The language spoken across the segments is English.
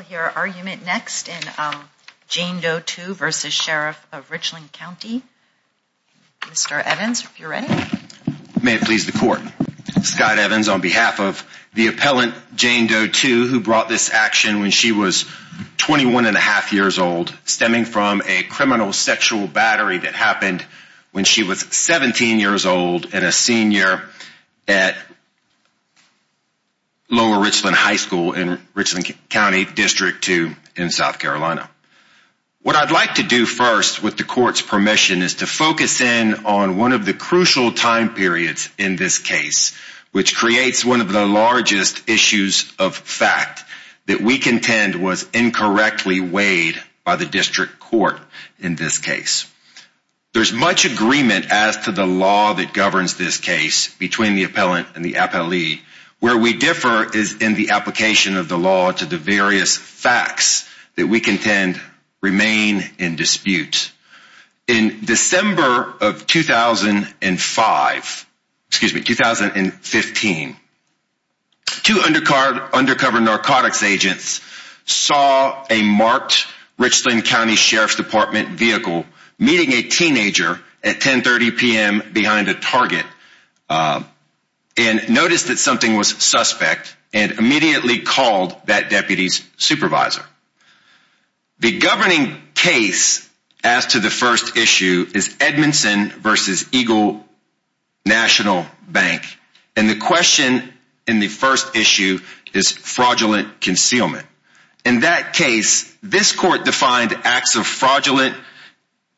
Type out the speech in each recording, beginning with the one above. May it please the Court, Scott Evans on behalf of the appellant Jane Doe-2 who brought this action when she was 21 1⁄2 years old, stemming from a criminal sexual battery that happened when she was 17 years old and a senior at Lower Richland High School in Richland County District 2 in South Carolina. What I'd like to do first with the Court's permission is to focus in on one of the crucial time periods in this case, which creates one of the largest issues of fact that we contend was incorrectly weighed by the District Court in this case. There's much agreement as to the law that governs this case between the appellant and the appellee. Where we differ is in the application of the law to the various facts that we contend remain in dispute. In December of 2005, excuse me, 2015, two undercover narcotics agents saw a marked Richland County Sheriff's Department vehicle meeting a teenager at 10.30 p.m. behind a Target and noticed that something was suspect and immediately called that deputy's supervisor. The governing case as to the first issue is Edmondson v. Eagle National Bank, and the question in the first issue is fraudulent concealment. In that case, this Court defined acts of fraudulent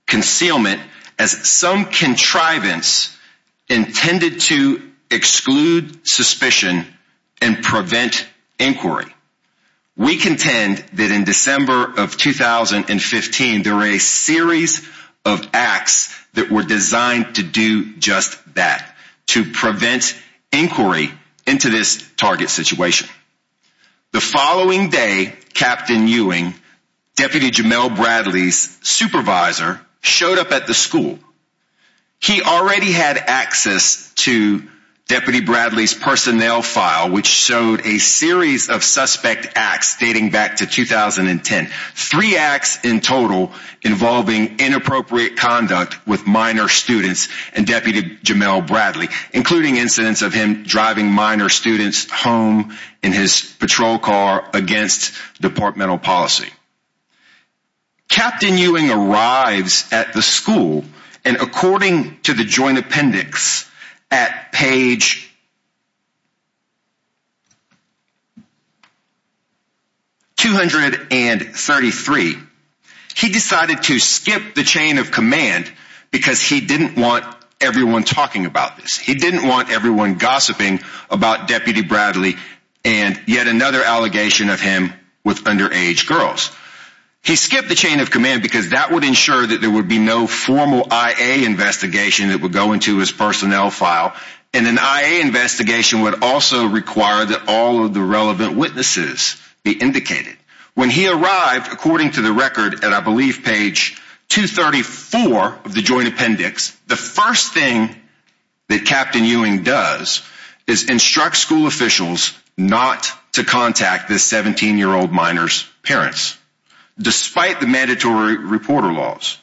concealment as some contrivance intended to exclude suspicion and prevent inquiry. We contend that in December of 2015, there were a series of acts that were designed to do just that, to prevent inquiry into this Target situation. The following day, Captain Ewing, Deputy Jamel Bradley's supervisor, showed up at the school. He already had access to Deputy Bradley's personnel file, which showed a series of suspect acts dating back to 2010. Three acts in total involving inappropriate conduct with minor students and Deputy Jamel Bradley, including incidents of him driving minor students home in his patrol car against departmental policy. Captain Ewing arrives at the school, and according to the joint appendix at page 233, he decided to skip the chain of command because he didn't want everyone talking about this. He skipped the chain of command because that would ensure that there would be no formal I.A. investigation that would go into his personnel file, and an I.A. investigation would also require that all of the relevant witnesses be indicated. When he arrived, according to the record at, I believe, page 234 of the joint appendix, the first thing that Captain Ewing does is instruct school officials not to contact this 17-year-old minor's parents, despite the mandatory reporter laws.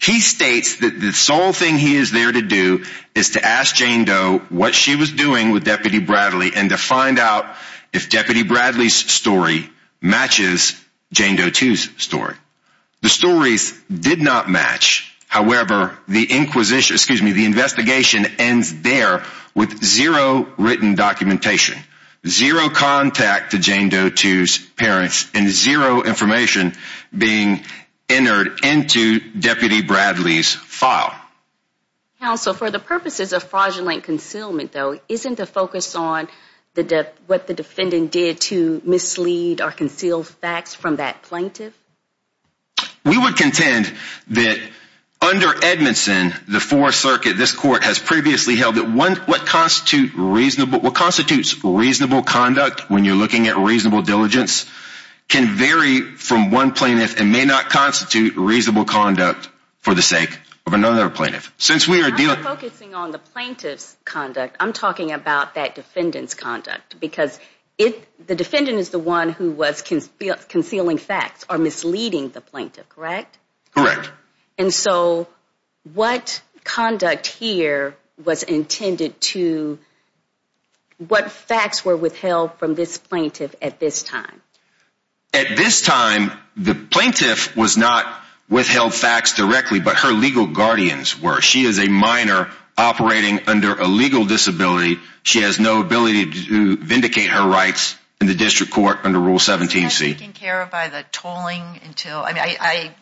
He states that the sole thing he is there to do is to ask Jane Doe what she was doing with Deputy Bradley and to find out if Deputy Bradley's story matches Jane Doe 2's story. The stories did not match. However, the investigation ends there with zero written documentation, zero contact to Jane Doe 2's parents, and zero information being entered into Deputy Bradley's file. Counsel, for the purposes of fraudulent concealment, though, isn't the focus on what the defendant did to mislead or conceal facts from that plaintiff? We would contend that under Edmondson, the Fourth Circuit, this Court has previously held that what constitutes reasonable conduct, when you're looking at reasonable diligence, can vary from one plaintiff and may not constitute reasonable conduct for the sake of another plaintiff. I'm not focusing on the plaintiff's conduct, I'm talking about that defendant's conduct, because the defendant is the one who was concealing facts or misleading the plaintiff, correct? Correct. And so what conduct here was intended to, what facts were withheld from this plaintiff at this time? At this time, the plaintiff was not withheld facts directly, but her legal guardians were. She is a minor operating under a legal disability. She has no ability to vindicate her rights in the district court under Rule 17c. I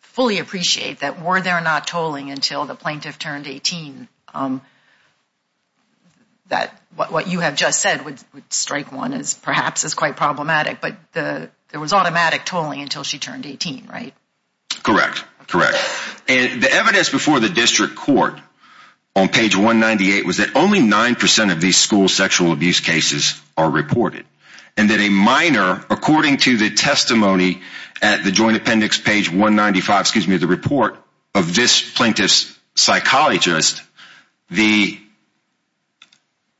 fully appreciate that were there not tolling until the plaintiff turned 18, what you have just said would strike one as perhaps as quite problematic, but there was automatic tolling until she turned 18, right? Correct, correct. The evidence before the district court on page 198 was that only 9% of these school sexual abuse cases are reported, and that a minor, according to the testimony at the Joint Appendix, page 195, excuse me, the report of this plaintiff's psychologist, the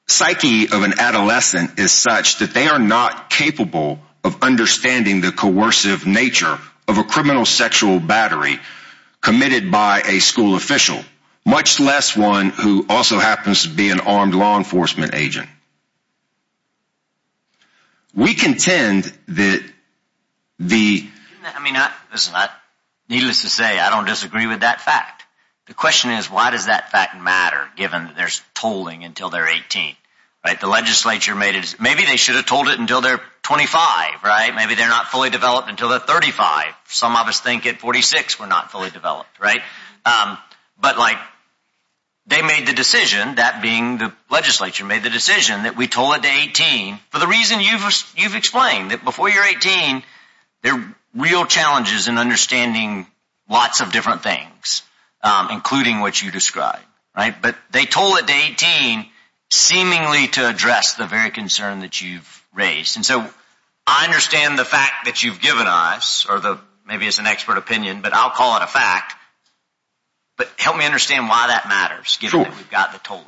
psyche of an adolescent is such that they are not capable of understanding the coercive nature of a criminal sexual battery committed by a school official, much less one who also happens to be an armed law enforcement agent. We contend that the... I mean, needless to say, I don't disagree with that fact. The question is, why does that fact matter, given there's tolling until they're 18? Maybe they should have told it until they're 25, right? Maybe they're not fully developed until they're 35. Some of us think at 46 we're not fully developed, right? But, like, they made the decision, that being the legislature, made the decision that we toll it to 18 for the reason you've explained, that before you're 18, there are real challenges in understanding lots of different things, including what you described. But they toll it to 18, seemingly to address the very concern that you've raised. And so, I understand the fact that you've given us, or maybe it's an expert opinion, but I'll call it a fact. But help me understand why that matters, given that we've got the tolling.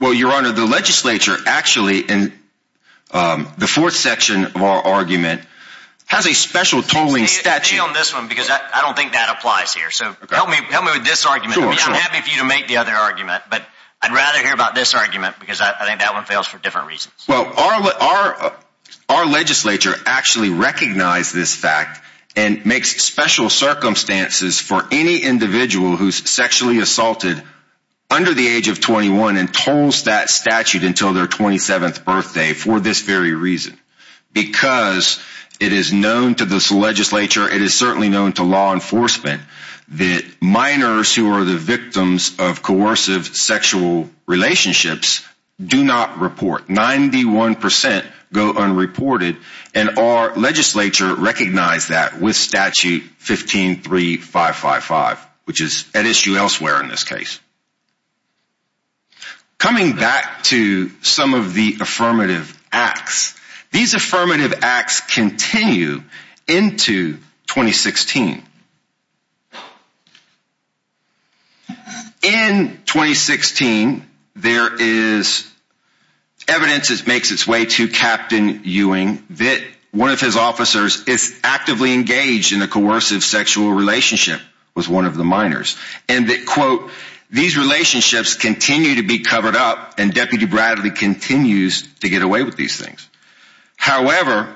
Well, Your Honor, the legislature actually, in the fourth section of our argument, has a special tolling statute. I don't think that applies here, so help me with this argument. I'd be happy for you to make the other argument, but I'd rather hear about this argument, because I think that one fails for different reasons. Well, our legislature actually recognized this fact and makes special circumstances for any individual who's sexually assaulted under the age of 21 and tolls that statute until their 27th birthday for this very reason. Because it is known to this legislature, it is certainly known to law enforcement, that minors who are the victims of coercive sexual relationships do not report. 91% go unreported, and our legislature recognized that with Statute 153555, which is at issue elsewhere in this case. Coming back to some of the affirmative acts, these affirmative acts continue into 2016. In 2016, there is evidence that makes its way to Captain Ewing that one of his officers is actively engaged in a coercive sexual relationship with one of the minors. And that, quote, these relationships continue to be covered up and Deputy Bradley continues to get away with these things. However,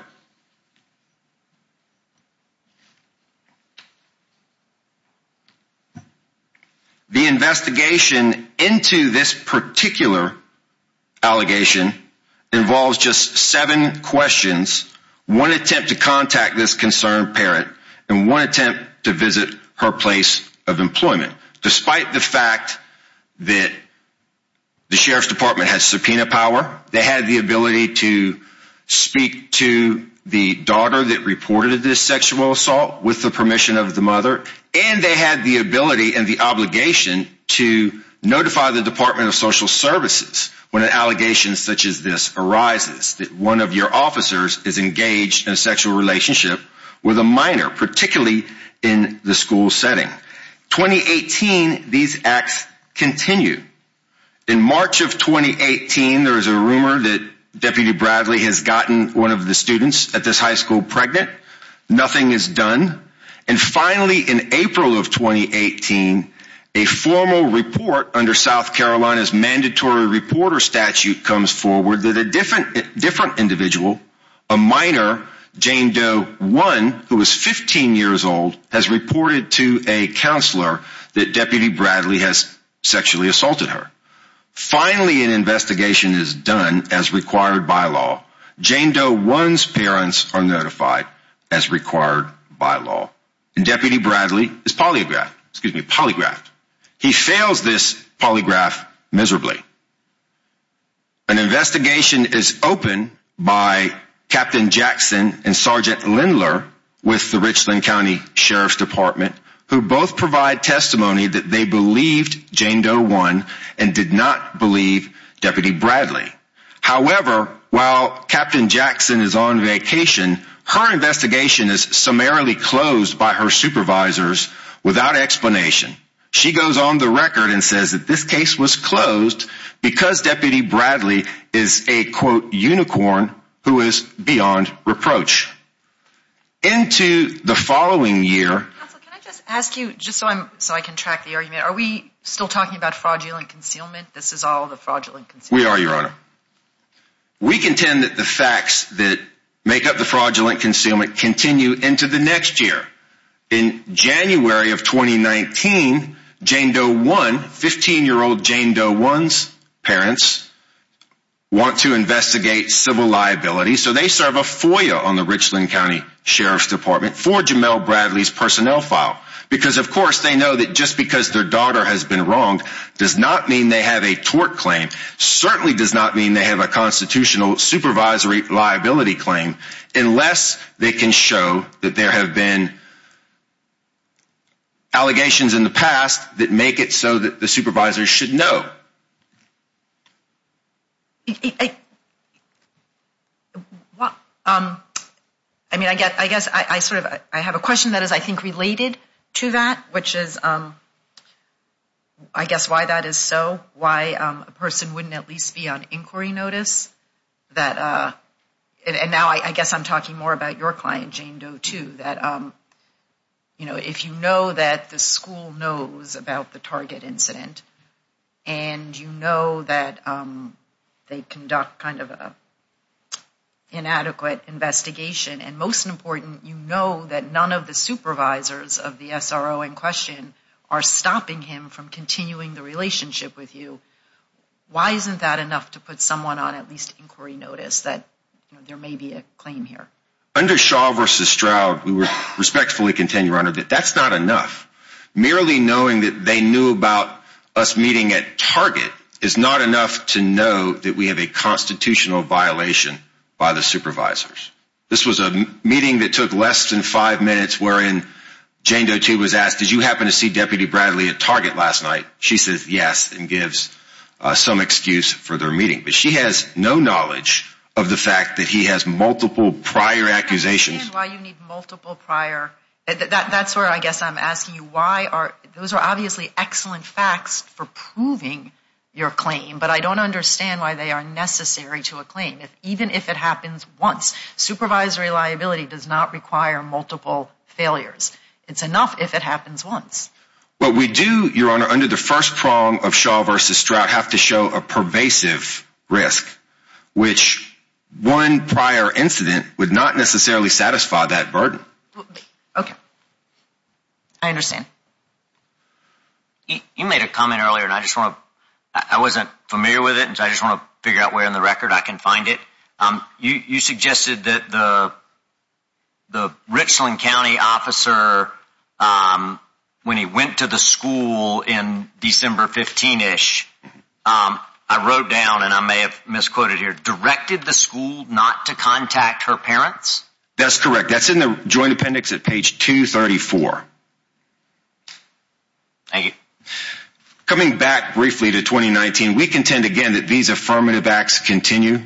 the investigation into this particular allegation involves just seven questions, one attempt to contact this concerned parent, and one attempt to visit her place of employment. Despite the fact that the Sheriff's Department has subpoena power, they had the ability to speak to the daughter that reported this sexual assault with the permission of the mother. And they had the ability and the obligation to notify the Department of Social Services when an allegation such as this arises, that one of your officers is engaged in a sexual relationship with a minor, particularly in the school setting. 2018, these acts continue. In March of 2018, there is a rumor that Deputy Bradley has gotten one of the students at this high school pregnant. Nothing is done. And finally, in April of 2018, a formal report under South Carolina's mandatory reporter statute comes forward that a different individual, a minor, Jane Doe One, who is 15 years old, has reported to a counselor that Deputy Bradley has sexually assaulted her. Finally, an investigation is done as required by law. Jane Doe One's parents are notified as required by law. And Deputy Bradley is polygraphed. He fails this polygraph miserably. An investigation is opened by Captain Jackson and Sergeant Lindler with the Richland County Sheriff's Department, who both provide testimony that they believed Jane Doe One and did not believe Deputy Bradley. However, while Captain Jackson is on vacation, her investigation is summarily closed by her supervisors without explanation. She goes on the record and says that this case was closed because Deputy Bradley is a, quote, unicorn who is beyond reproach. Into the following year... Counsel, can I just ask you, just so I can track the argument, are we still talking about fraudulent concealment? This is all the fraudulent concealment. We are, Your Honor. We contend that the facts that make up the fraudulent concealment continue into the next year. In January of 2019, Jane Doe One, 15-year-old Jane Doe One's parents, want to investigate civil liability, so they serve a FOIA on the Richland County Sheriff's Department for Jamel Bradley's personnel file. Because, of course, they know that just because their daughter has been wronged does not mean they have a tort claim, certainly does not mean they have a constitutional supervisory liability claim, unless they can show that there have been allegations in the past that make it so that the supervisors should know. I mean, I guess I sort of, I have a question that is, I think, related to that, which is, I guess, why that is so, why a person wouldn't at least be on inquiry notice that, and now I guess I'm talking more about your client, Jane Doe, too, that, you know, if you know that the school knows about the target incident, and you know that they conduct kind of an inadequate investigation, and most important, you know that none of the supervisors of the SRO in question are stopping him from continuing the relationship with you, why isn't that enough to put someone on at least inquiry notice that there may be a claim here? Under Shaw versus Stroud, we respectfully contend, Your Honor, that that's not enough. Merely knowing that they knew about us meeting at Target is not enough to know that we have a constitutional violation by the supervisors. This was a meeting that took less than five minutes, wherein Jane Doe, too, was asked, did you happen to see Deputy Bradley at Target last night? She says yes, and gives some excuse for their meeting, but she has no knowledge of the fact that he has multiple prior accusations. I can't understand why you need multiple prior, that's where I guess I'm asking you, why are, those are obviously excellent facts for proving your claim, but I don't understand why they are necessary to a claim, even if it happens once. Supervised reliability does not require multiple failures. It's enough if it happens once. What we do, Your Honor, under the first prong of Shaw versus Stroud, have to show a pervasive risk, which one prior incident would not necessarily satisfy that burden. Okay. I understand. You made a comment earlier, and I just want to, I wasn't familiar with it, and I just want to figure out where in the record I can find it. You suggested that the Richland County officer, when he went to the school in December 15-ish, I wrote down, and I may have misquoted here, directed the school not to contact her parents? That's correct. That's in the joint appendix at page 234. Thank you. Coming back briefly to 2019, we contend again that these affirmative acts continue.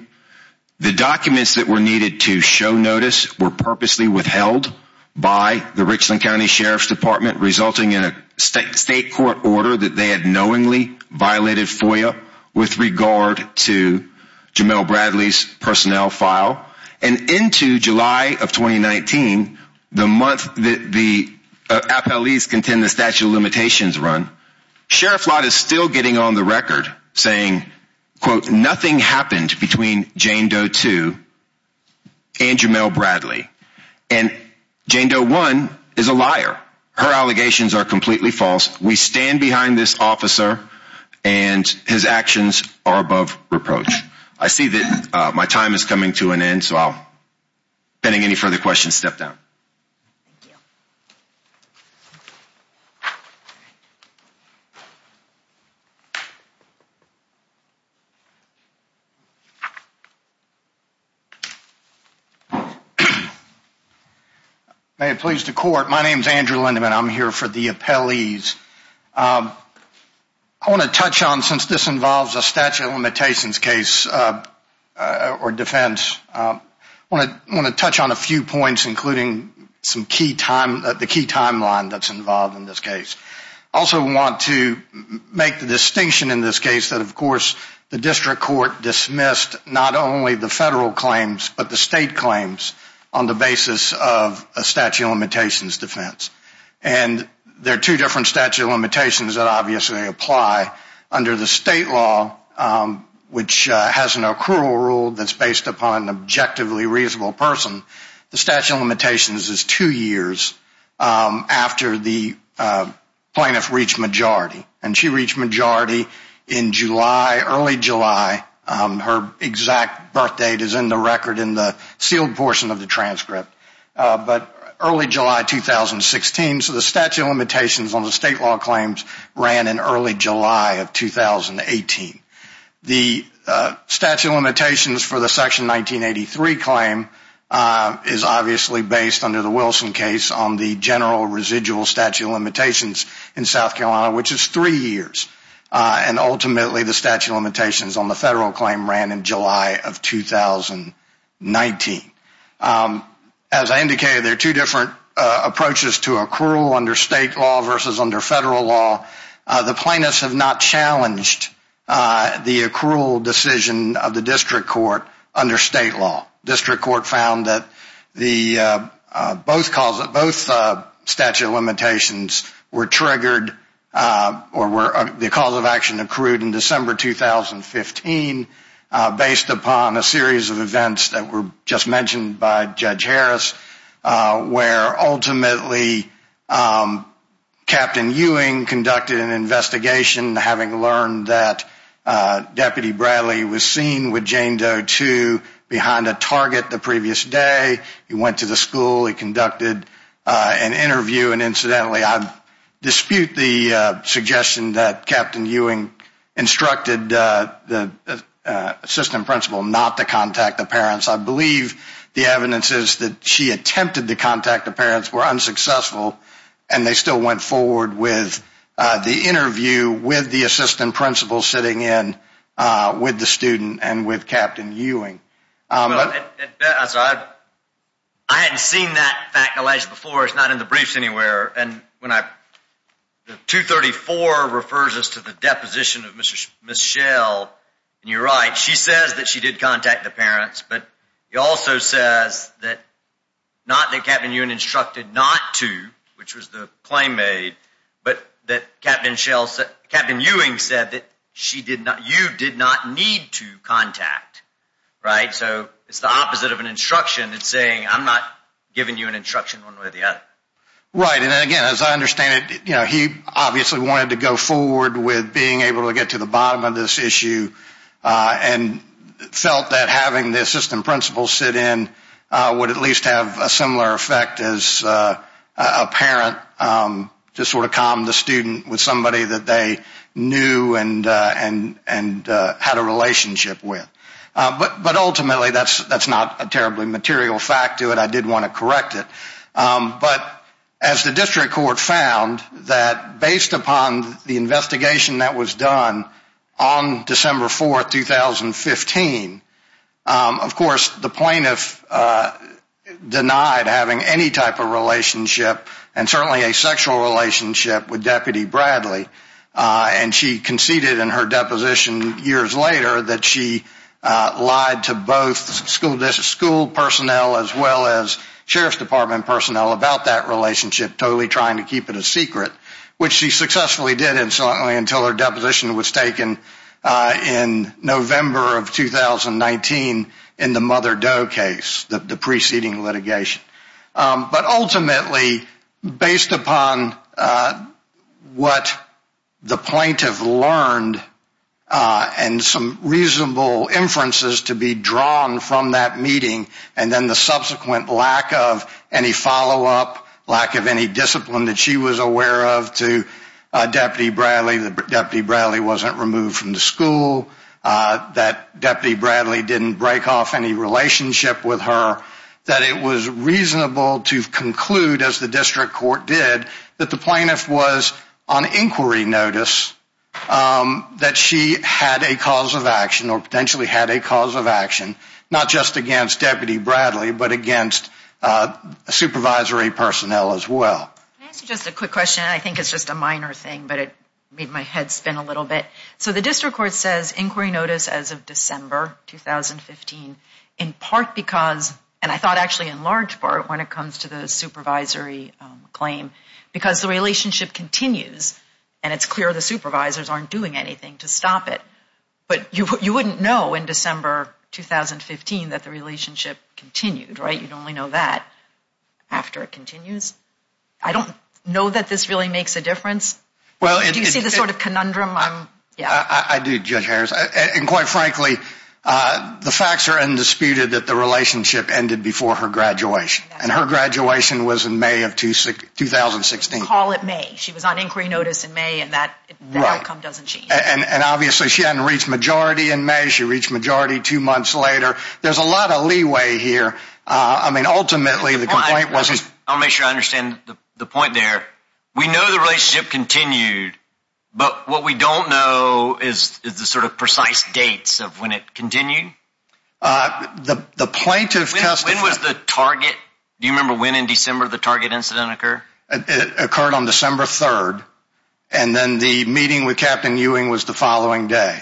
The documents that were needed to show notice were purposely withheld by the Richland County Sheriff's Department, resulting in a state court order that they had knowingly violated FOIA with regard to Jamel Bradley's personnel file. And into July of 2019, the month that the FLEs contend the statute of limitations run, Sheriff Flott is still getting on the record saying, quote, nothing happened between Jane Doe 2 and Jamel Bradley. And Jane Doe 1 is a liar. Her allegations are completely false. We stand behind this officer, and his actions are above reproach. I see that my time is coming to an end, so I'll, pending any further questions, step down. Thank you. May it please the court, my name is Andrew Lindeman. I'm here for the appellees. I want to touch on, since this involves a statute of limitations case or defense, I want to touch on a few points, including the key timeline that's involved in this case. I also want to make the distinction in this case that, of course, the district court dismissed not only the federal claims, but the state claims on the basis of a statute of limitations defense. And there are two different statute of limitations that obviously apply. Under the state law, which has an accrual rule that's based upon an objectively reasonable person, the statute of limitations is two years after the plaintiff reached majority. And she reached majority in early July. Her exact birth date is in the record in the sealed portion of the transcript. But early July 2016, so the statute of limitations on the state law claims ran in early July of 2018. The statute of limitations for the section 1983 claim is obviously based under the Wilson case on the general residual statute of limitations in South Carolina, which is three years. And ultimately the statute of limitations on the federal claim ran in July of 2019. As I indicated, there are two different approaches to accrual under state law versus under federal law. The plaintiffs have not challenged the accrual decision of the district court under state law. District court found that both statute of limitations were triggered or the cause of action accrued in December 2015 based upon a series of events that were just mentioned by Judge Harris, where ultimately Captain Ewing conducted an investigation, having learned that Deputy Bradley was seen with Jane Doe, too, behind a target the previous day. He went to the school. He conducted an interview. And incidentally, I dispute the suggestion that Captain Ewing instructed the assistant principal not to contact the parents. I believe the evidence is that she attempted to contact the parents, were unsuccessful, and they still went forward with the interview with the assistant principal sitting in with the student and with Captain Ewing. I hadn't seen that fact before. It's not in the briefs anywhere. And when I 234 refers us to the deposition of Mrs. Michelle, you're right. She says that she did contact the parents. But he also says that not that Captain Ewing instructed not to, which was the claim made, but that Captain Ewing said that you did not need to contact. Right. So it's the opposite of an instruction in saying I'm not giving you an instruction one way or the other. Right. And again, as I understand it, he obviously wanted to go forward with being able to get to the bottom of this issue and felt that having the assistant principal sit in would at least have a similar effect as a parent to sort of calm the student with somebody that they knew and had a relationship with. But ultimately, that's not a terribly material fact to it. I did want to correct it. But as the district court found that based upon the investigation that was done on December 4th, 2015, of course, the plaintiff denied having any type of relationship and certainly a sexual relationship with Deputy Bradley. And she conceded in her deposition years later that she lied to both school personnel as well as sheriff's department personnel about that relationship, totally trying to keep it a secret, which she successfully did until her deposition was taken in November of 2019 in the Mother Doe case, the preceding litigation. But ultimately, based upon what the plaintiff learned and some reasonable inferences to be drawn from that meeting and then the subsequent lack of any follow-up, lack of any discipline that she was aware of to Deputy Bradley, that Deputy Bradley wasn't removed from the school, that Deputy Bradley didn't break off any relationship with her, that it was reasonable to conclude, as the district court did, that the plaintiff was on inquiry notice that she had a cause of action or potentially had a cause of action not just against Deputy Bradley but against supervisory personnel as well. Can I ask you just a quick question? I think it's just a minor thing, but it made my head spin a little bit. So the district court says inquiry notice as of December 2015 in part because, and I thought actually in large part when it comes to the supervisory claim, because the relationship continues and it's clear the supervisors aren't doing anything to stop it. But you wouldn't know in December 2015 that the relationship continued, right? You'd only know that after it continues. I don't know that this really makes a difference. Do you see the sort of conundrum? I do, Judge Harris. And quite frankly, the facts are undisputed that the relationship ended before her graduation. And her graduation was in May of 2016. Call it May. She was on inquiry notice in May and that outcome doesn't change. And obviously she hadn't reached majority in May. She reached majority two months later. There's a lot of leeway here. I mean, ultimately the complaint was… I'll make sure I understand the point there. We know the relationship continued. But what we don't know is the sort of precise dates of when it continued. The plaintiff testified… When was the target? Do you remember when in December the target incident occurred? It occurred on December 3rd. And then the meeting with Captain Ewing was the following day.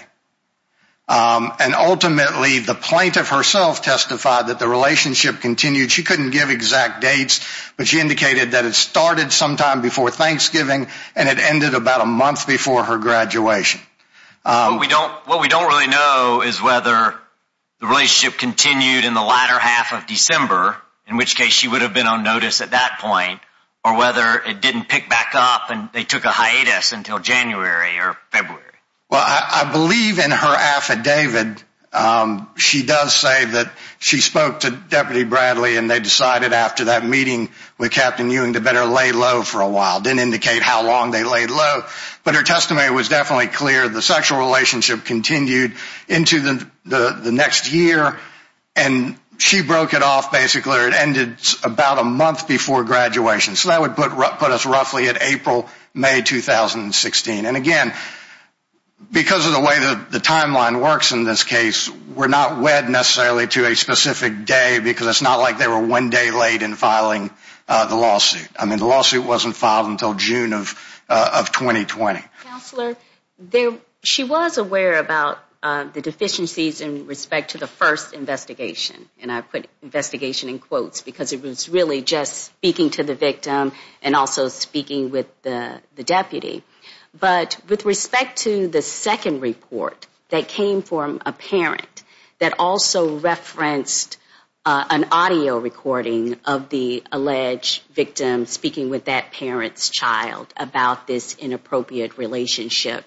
And ultimately the plaintiff herself testified that the relationship continued. She couldn't give exact dates, but she indicated that it started sometime before Thanksgiving and it ended about a month before her graduation. What we don't really know is whether the relationship continued in the latter half of December, in which case she would have been on notice at that point, or whether it didn't pick back up and they took a hiatus until January or February. Well, I believe in her affidavit she does say that she spoke to Deputy Bradley and they decided after that meeting with Captain Ewing to better lay low for a while. It didn't indicate how long they laid low. But her testimony was definitely clear. The sexual relationship continued into the next year. And she broke it off basically, or it ended about a month before graduation. So that would put us roughly at April, May 2016. And again, because of the way the timeline works in this case, we're not wed necessarily to a specific day because it's not like they were one day late in filing the lawsuit. I mean, the lawsuit wasn't filed until June of 2020. Counselor, she was aware about the deficiencies in respect to the first investigation. And I put investigation in quotes because it was really just speaking to the victim and also speaking with the deputy. But with respect to the second report that came from a parent that also referenced an audio recording of the alleged victim speaking with that parent's child about this inappropriate relationship,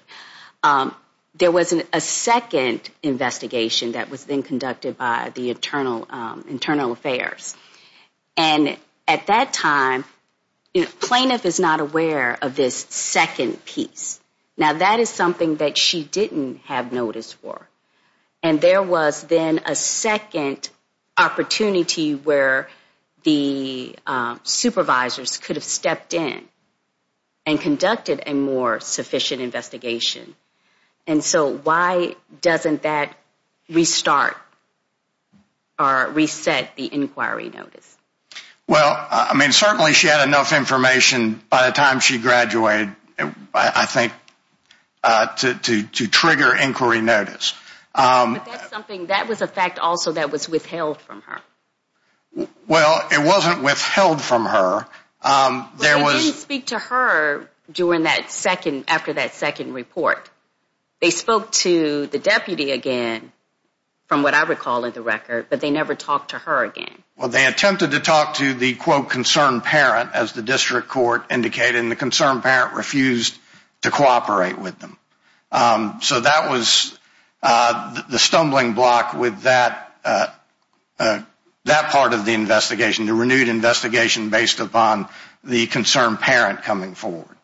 there was a second investigation that was then conducted by the Internal Affairs. And at that time, plaintiff is not aware of this second piece. Now, that is something that she didn't have notice for. And there was then a second opportunity where the supervisors could have stepped in and conducted a more sufficient investigation. And so why doesn't that restart or reset the inquiry notice? Well, I mean, certainly she had enough information by the time she graduated, I think, to trigger inquiry notice. But that's something that was a fact also that was withheld from her. Well, it wasn't withheld from her. Well, they didn't speak to her after that second report. They spoke to the deputy again, from what I recall in the record, but they never talked to her again. Well, they attempted to talk to the, quote, concerned parent, as the district court indicated, and the concerned parent refused to cooperate with them. So that was the stumbling block with that part of the investigation, the renewed investigation based upon the concerned parent coming forward.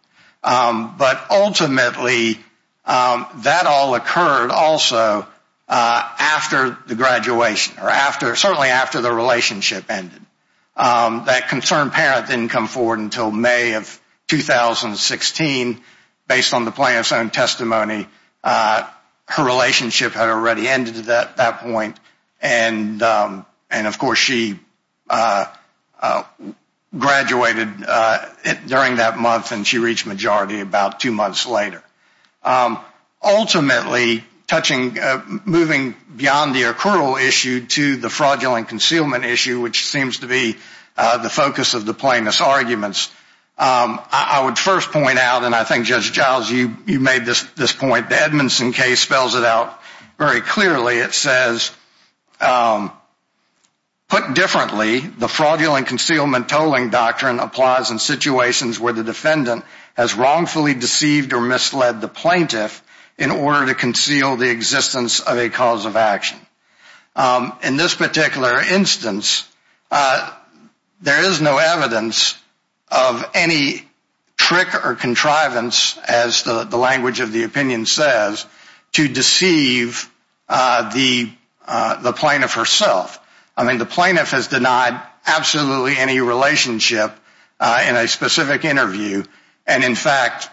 But ultimately, that all occurred also after the graduation or certainly after the relationship ended. That concerned parent didn't come forward until May of 2016. Based on the plaintiff's own testimony, her relationship had already ended at that point. And, of course, she graduated during that month, and she reached majority about two months later. Ultimately, moving beyond the accrual issue to the fraudulent concealment issue, which seems to be the focus of the plaintiff's arguments, I would first point out, and I think, Judge Giles, you made this point, the Edmondson case spells it out very clearly. It says, put differently, the fraudulent concealment tolling doctrine applies in situations where the defendant has wrongfully deceived or misled the plaintiff in order to conceal the existence of a cause of action. In this particular instance, there is no evidence of any trick or contrivance, as the language of the opinion says, to deceive the plaintiff herself. I mean, the plaintiff has denied absolutely any relationship in a specific interview. And, in fact,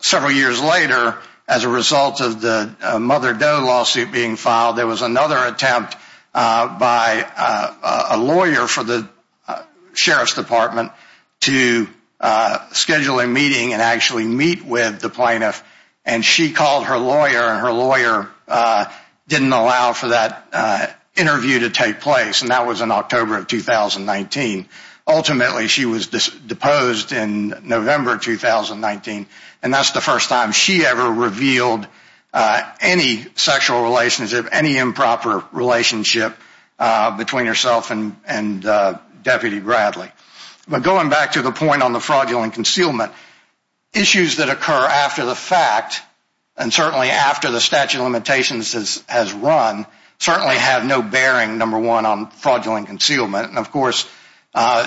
several years later, as a result of the Mother Doe lawsuit being filed, there was another attempt by a lawyer for the Sheriff's Department to schedule a meeting and actually meet with the plaintiff. And she called her lawyer, and her lawyer didn't allow for that interview to take place, and that was in October of 2019. Ultimately, she was deposed in November of 2019, and that's the first time she ever revealed any sexual relationship, any improper relationship between herself and Deputy Bradley. But going back to the point on the fraudulent concealment, issues that occur after the fact, and certainly after the statute of limitations has run, certainly have no bearing, number one, on fraudulent concealment. And, of course,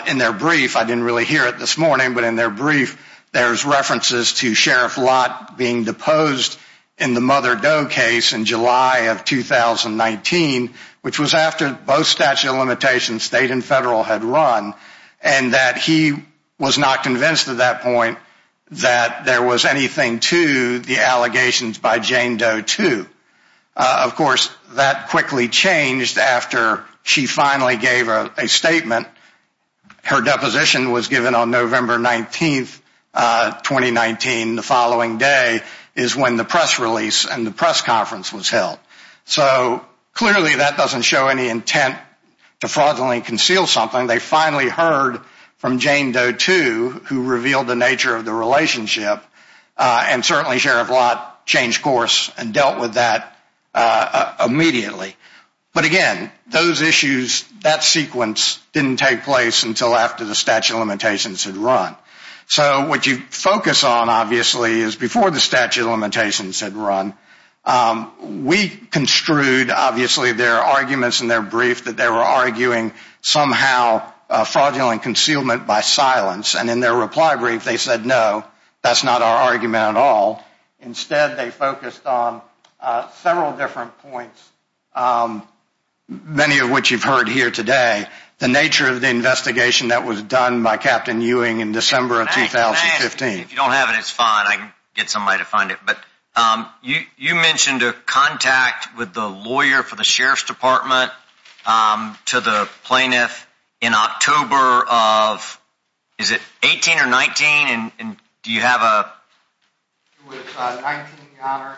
in their brief, I didn't really hear it this morning, but in their brief, there's references to Sheriff Lott being deposed in the Mother Doe case in July of 2019, which was after both statute of limitations, state and federal, had run, and that he was not convinced at that point that there was anything to the allegations by Jane Doe, too. Of course, that quickly changed after she finally gave a statement. Her deposition was given on November 19th, 2019. The following day is when the press release and the press conference was held. So clearly, that doesn't show any intent to fraudulently conceal something. They finally heard from Jane Doe, too, who revealed the nature of the relationship, and certainly Sheriff Lott changed course and dealt with that immediately. But, again, those issues, that sequence didn't take place until after the statute of limitations had run. So what you focus on, obviously, is before the statute of limitations had run, we construed, obviously, their arguments in their brief that they were arguing somehow fraudulent concealment by silence, and in their reply brief, they said, no, that's not our argument at all. Instead, they focused on several different points, many of which you've heard here today, the nature of the investigation that was done by Captain Ewing in December of 2015. If you don't have it, it's fine. I can get somebody to find it. But you mentioned a contact with the lawyer for the Sheriff's Department to the plaintiff in October of, is it 18 or 19? And do you have a... It was 19, Your Honor.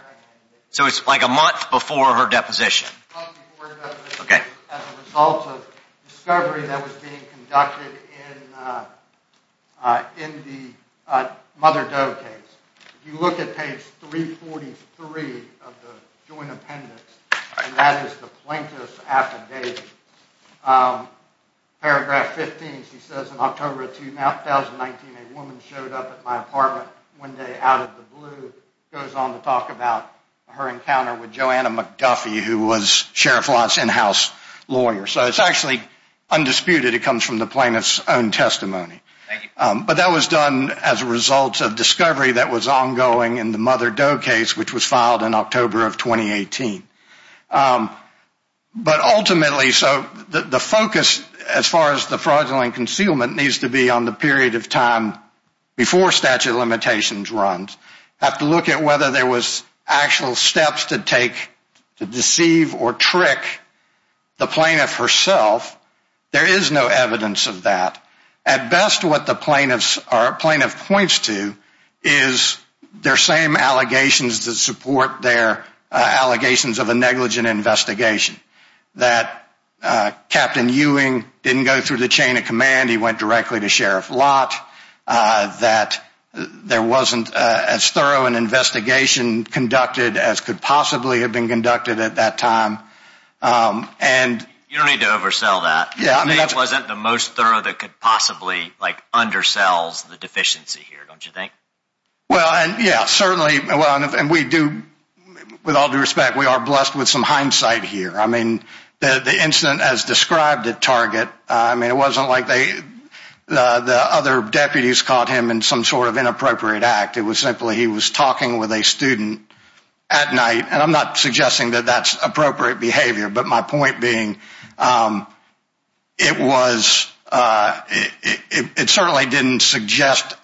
So it's like a month before her deposition. A month before her deposition as a result of a discovery that was being conducted in the Mother Doe case. If you look at page 343 of the joint appendix, and that is the plaintiff's affidavit, paragraph 15, she says, in October of 2019, a woman showed up at my apartment one day out of the blue, goes on to talk about her encounter with Joanna McDuffie, who was Sheriff Lott's in-house lawyer. So it's actually undisputed. It comes from the plaintiff's own testimony. Thank you. But that was done as a result of discovery that was ongoing in the Mother Doe case, which was filed in October of 2018. But ultimately, so the focus as far as the fraudulent concealment needs to be on the period of time before statute of limitations runs. Have to look at whether there was actual steps to take to deceive or trick the plaintiff herself. There is no evidence of that. At best, what the plaintiff points to is their same allegations that support their allegations of a negligent investigation. That Captain Ewing didn't go through the chain of command. He went directly to Sheriff Lott. That there wasn't as thorough an investigation conducted as could possibly have been conducted at that time. You don't need to oversell that. It wasn't the most thorough that could possibly undersell the deficiency here, don't you think? Well, yeah, certainly. And we do, with all due respect, we are blessed with some hindsight here. I mean, the incident as described at Target, I mean, it wasn't like the other deputies caught him in some sort of inappropriate act. It was simply he was talking with a student at night. And I'm not suggesting that that's appropriate behavior. But my point being, it was, it certainly didn't suggest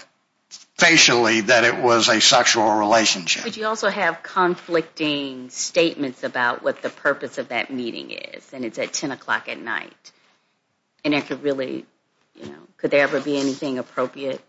facially that it was a sexual relationship. But you also have conflicting statements about what the purpose of that meeting is. And it's at 10 o'clock at night. And it could really, you know, could there ever be anything appropriate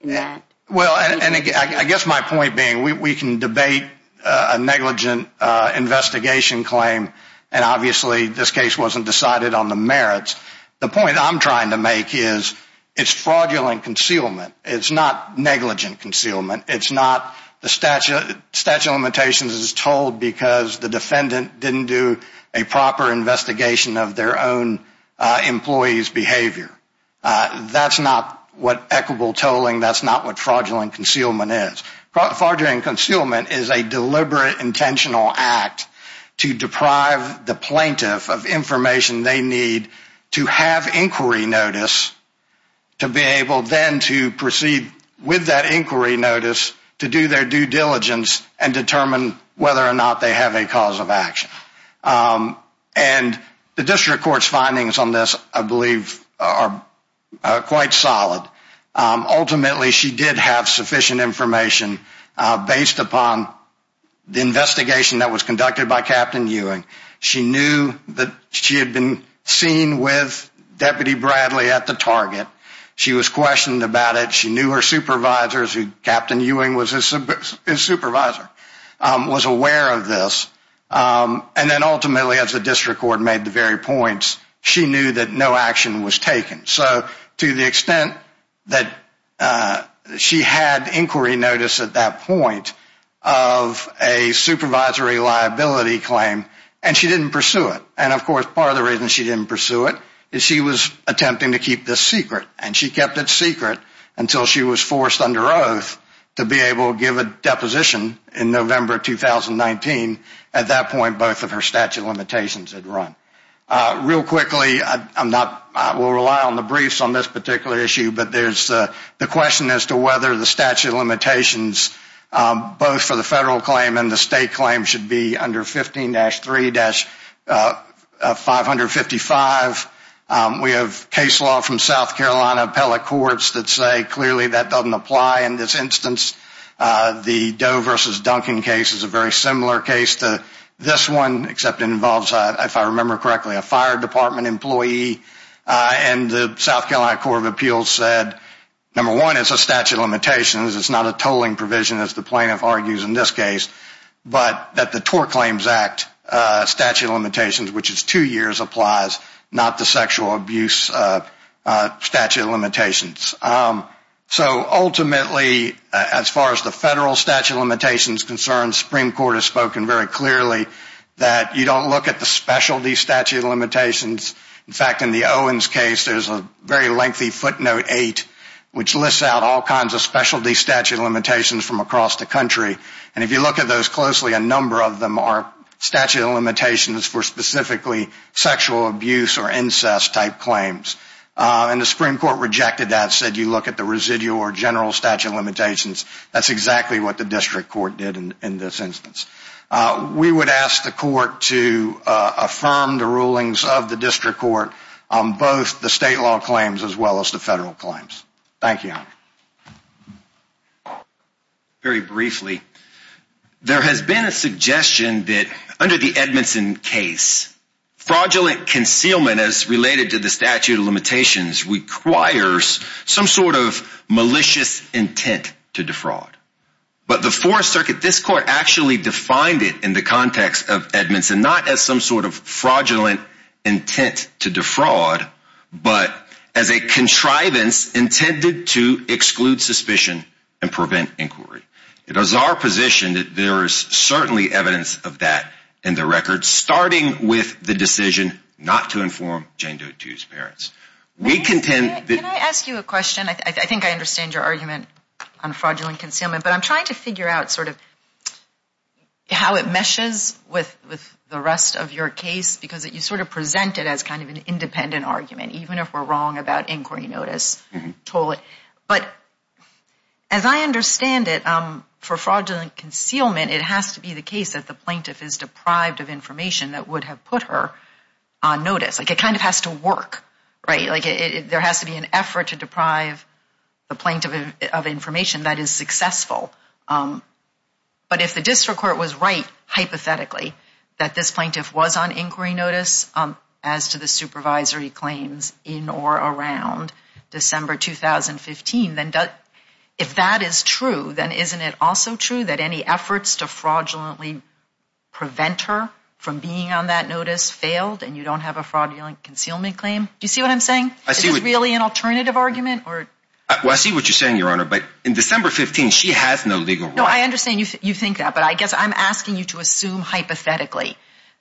in that? Well, and I guess my point being, we can debate a negligent investigation claim. And obviously, this case wasn't decided on the merits. The point I'm trying to make is it's fraudulent concealment. It's not negligent concealment. It's not the statute of limitations is told because the defendant didn't do a proper investigation of their own employee's behavior. That's not what equitable tolling. That's not what fraudulent concealment is. Fraudulent concealment is a deliberate, intentional act to deprive the plaintiff of information they need to have inquiry notice, to be able then to proceed with that inquiry notice, to do their due diligence and determine whether or not they have a cause of action. And the district court's findings on this, I believe, are quite solid. Ultimately, she did have sufficient information based upon the investigation that was conducted by Captain Ewing. She knew that she had been seen with Deputy Bradley at the target. She was questioned about it. She knew her supervisors, who Captain Ewing was his supervisor, was aware of this. And then ultimately, as the district court made the very points, she knew that no action was taken. So to the extent that she had inquiry notice at that point of a supervisory liability claim, and she didn't pursue it. And, of course, part of the reason she didn't pursue it is she was attempting to keep this secret. And she kept it secret until she was forced under oath to be able to give a deposition in November 2019. At that point, both of her statute of limitations had run. Real quickly, I will rely on the briefs on this particular issue, but there's the question as to whether the statute of limitations, both for the federal claim and the state claim, should be under 15-3-555. We have case law from South Carolina appellate courts that say clearly that doesn't apply in this instance. The Doe versus Duncan case is a very similar case to this one, except it involves, if I remember correctly, a fire department employee. And the South Carolina Court of Appeals said, number one, it's a statute of limitations. It's not a tolling provision, as the plaintiff argues in this case. But that the TOR Claims Act statute of limitations, which is two years, applies, not the sexual abuse statute of limitations. So ultimately, as far as the federal statute of limitations is concerned, the Supreme Court has spoken very clearly that you don't look at the specialty statute of limitations. In fact, in the Owens case, there's a very lengthy footnote 8, which lists out all kinds of specialty statute of limitations from across the country. And if you look at those closely, a number of them are statute of limitations for specifically sexual abuse or incest type claims. And the Supreme Court rejected that, said you look at the residual or general statute of limitations. That's exactly what the district court did in this instance. We would ask the court to affirm the rulings of the district court on both the state law claims as well as the federal claims. Thank you. Very briefly, there has been a suggestion that under the Edmondson case, fraudulent concealment as related to the statute of limitations requires some sort of malicious intent to defraud. But the Fourth Circuit, this court actually defined it in the context of Edmondson, not as some sort of fraudulent intent to defraud, but as a contrivance intended to exclude suspicion and prevent inquiry. It is our position that there is certainly evidence of that in the record, starting with the decision not to inform Jane Doe 2's parents. Can I ask you a question? I think I understand your argument on fraudulent concealment. But I'm trying to figure out sort of how it meshes with the rest of your case because you sort of present it as kind of an independent argument, even if we're wrong about inquiry notice. But as I understand it, for fraudulent concealment, it has to be the case that the plaintiff is deprived of information that would have put her on notice. Like it kind of has to work, right? Like there has to be an effort to deprive the plaintiff of information that is successful. But if the district court was right, hypothetically, that this plaintiff was on inquiry notice as to the supervisory claims in or around December 2015, if that is true, then isn't it also true that any efforts to fraudulently prevent her from being on that notice failed and you don't have a fraudulent concealment claim? Do you see what I'm saying? Is this really an alternative argument? Well, I see what you're saying, Your Honor, but in December 2015, she has no legal right. No, I understand you think that, but I guess I'm asking you to assume hypothetically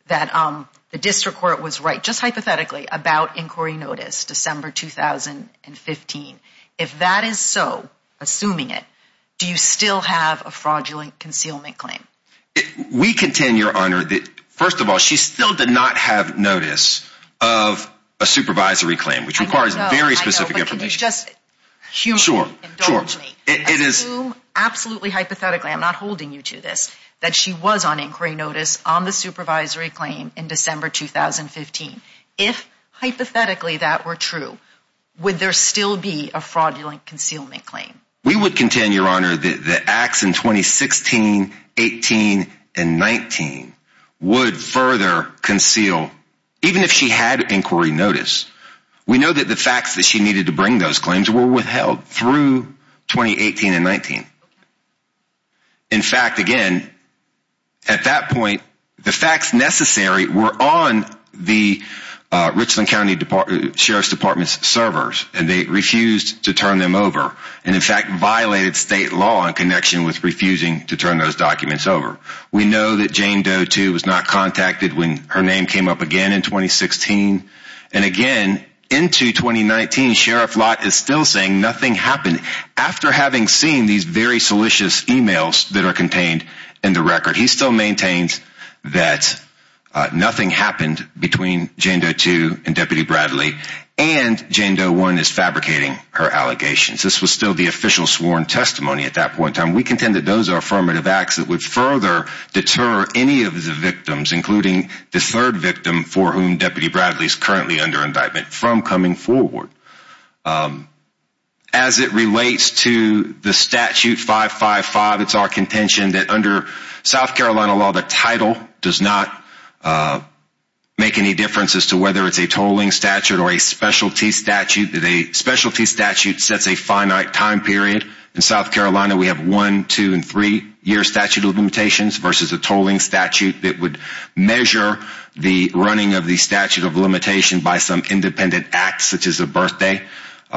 that the district court was right, just hypothetically, about inquiry notice December 2015. If that is so, assuming it, do you still have a fraudulent concealment claim? We contend, Your Honor, that first of all, she still did not have notice of a supervisory claim, which requires very specific information. I know, I know, but can you just humanly indulge me and assume absolutely hypothetically, I'm not holding you to this, that she was on inquiry notice on the supervisory claim in December 2015. If hypothetically that were true, would there still be a fraudulent concealment claim? We would contend, Your Honor, that the acts in 2016, 18, and 19 would further conceal, even if she had inquiry notice. We know that the facts that she needed to bring those claims were withheld through 2018 and 19. In fact, again, at that point, the facts necessary were on the Richland County Sheriff's Department's servers, and they refused to turn them over. And in fact, violated state law in connection with refusing to turn those documents over. We know that Jane Doe, too, was not contacted when her name came up again in 2016. And again, into 2019, Sheriff Lott is still saying nothing happened. After having seen these very salacious emails that are contained in the record, he still maintains that nothing happened between Jane Doe, too, and Deputy Bradley. And Jane Doe, one, is fabricating her allegations. This was still the official sworn testimony at that point in time. We contend that those are affirmative acts that would further deter any of the victims, including the third victim for whom Deputy Bradley is currently under indictment, from coming forward. As it relates to the Statute 555, it's our contention that under South Carolina law, the title does not make any difference as to whether it's a tolling statute or a specialty statute. The specialty statute sets a finite time period. In South Carolina, we have one, two, and three year statute of limitations versus a tolling statute that would measure the running of the statute of limitation by some independent act, such as a birthday.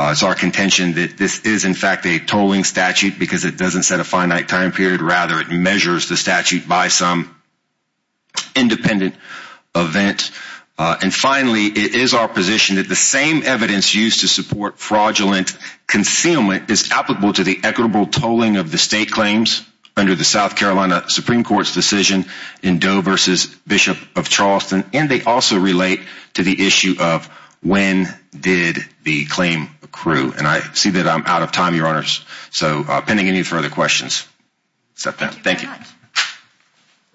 It's our contention that this is, in fact, a tolling statute because it doesn't set a finite time period. Rather, it measures the statute by some independent event. And finally, it is our position that the same evidence used to support fraudulent concealment is applicable to the equitable tolling of the state claims under the South Carolina Supreme Court's decision in Doe v. Bishop of Charleston. And they also relate to the issue of when did the claim accrue. And I see that I'm out of time, Your Honors. So, pending any further questions, step down. Thank you.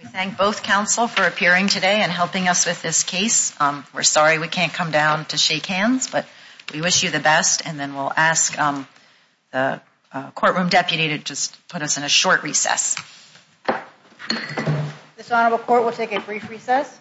We thank both counsel for appearing today and helping us with this case. We're sorry we can't come down to shake hands, but we wish you the best. And then we'll ask the courtroom deputy to just put us in a short recess. This honorable court will take a brief recess.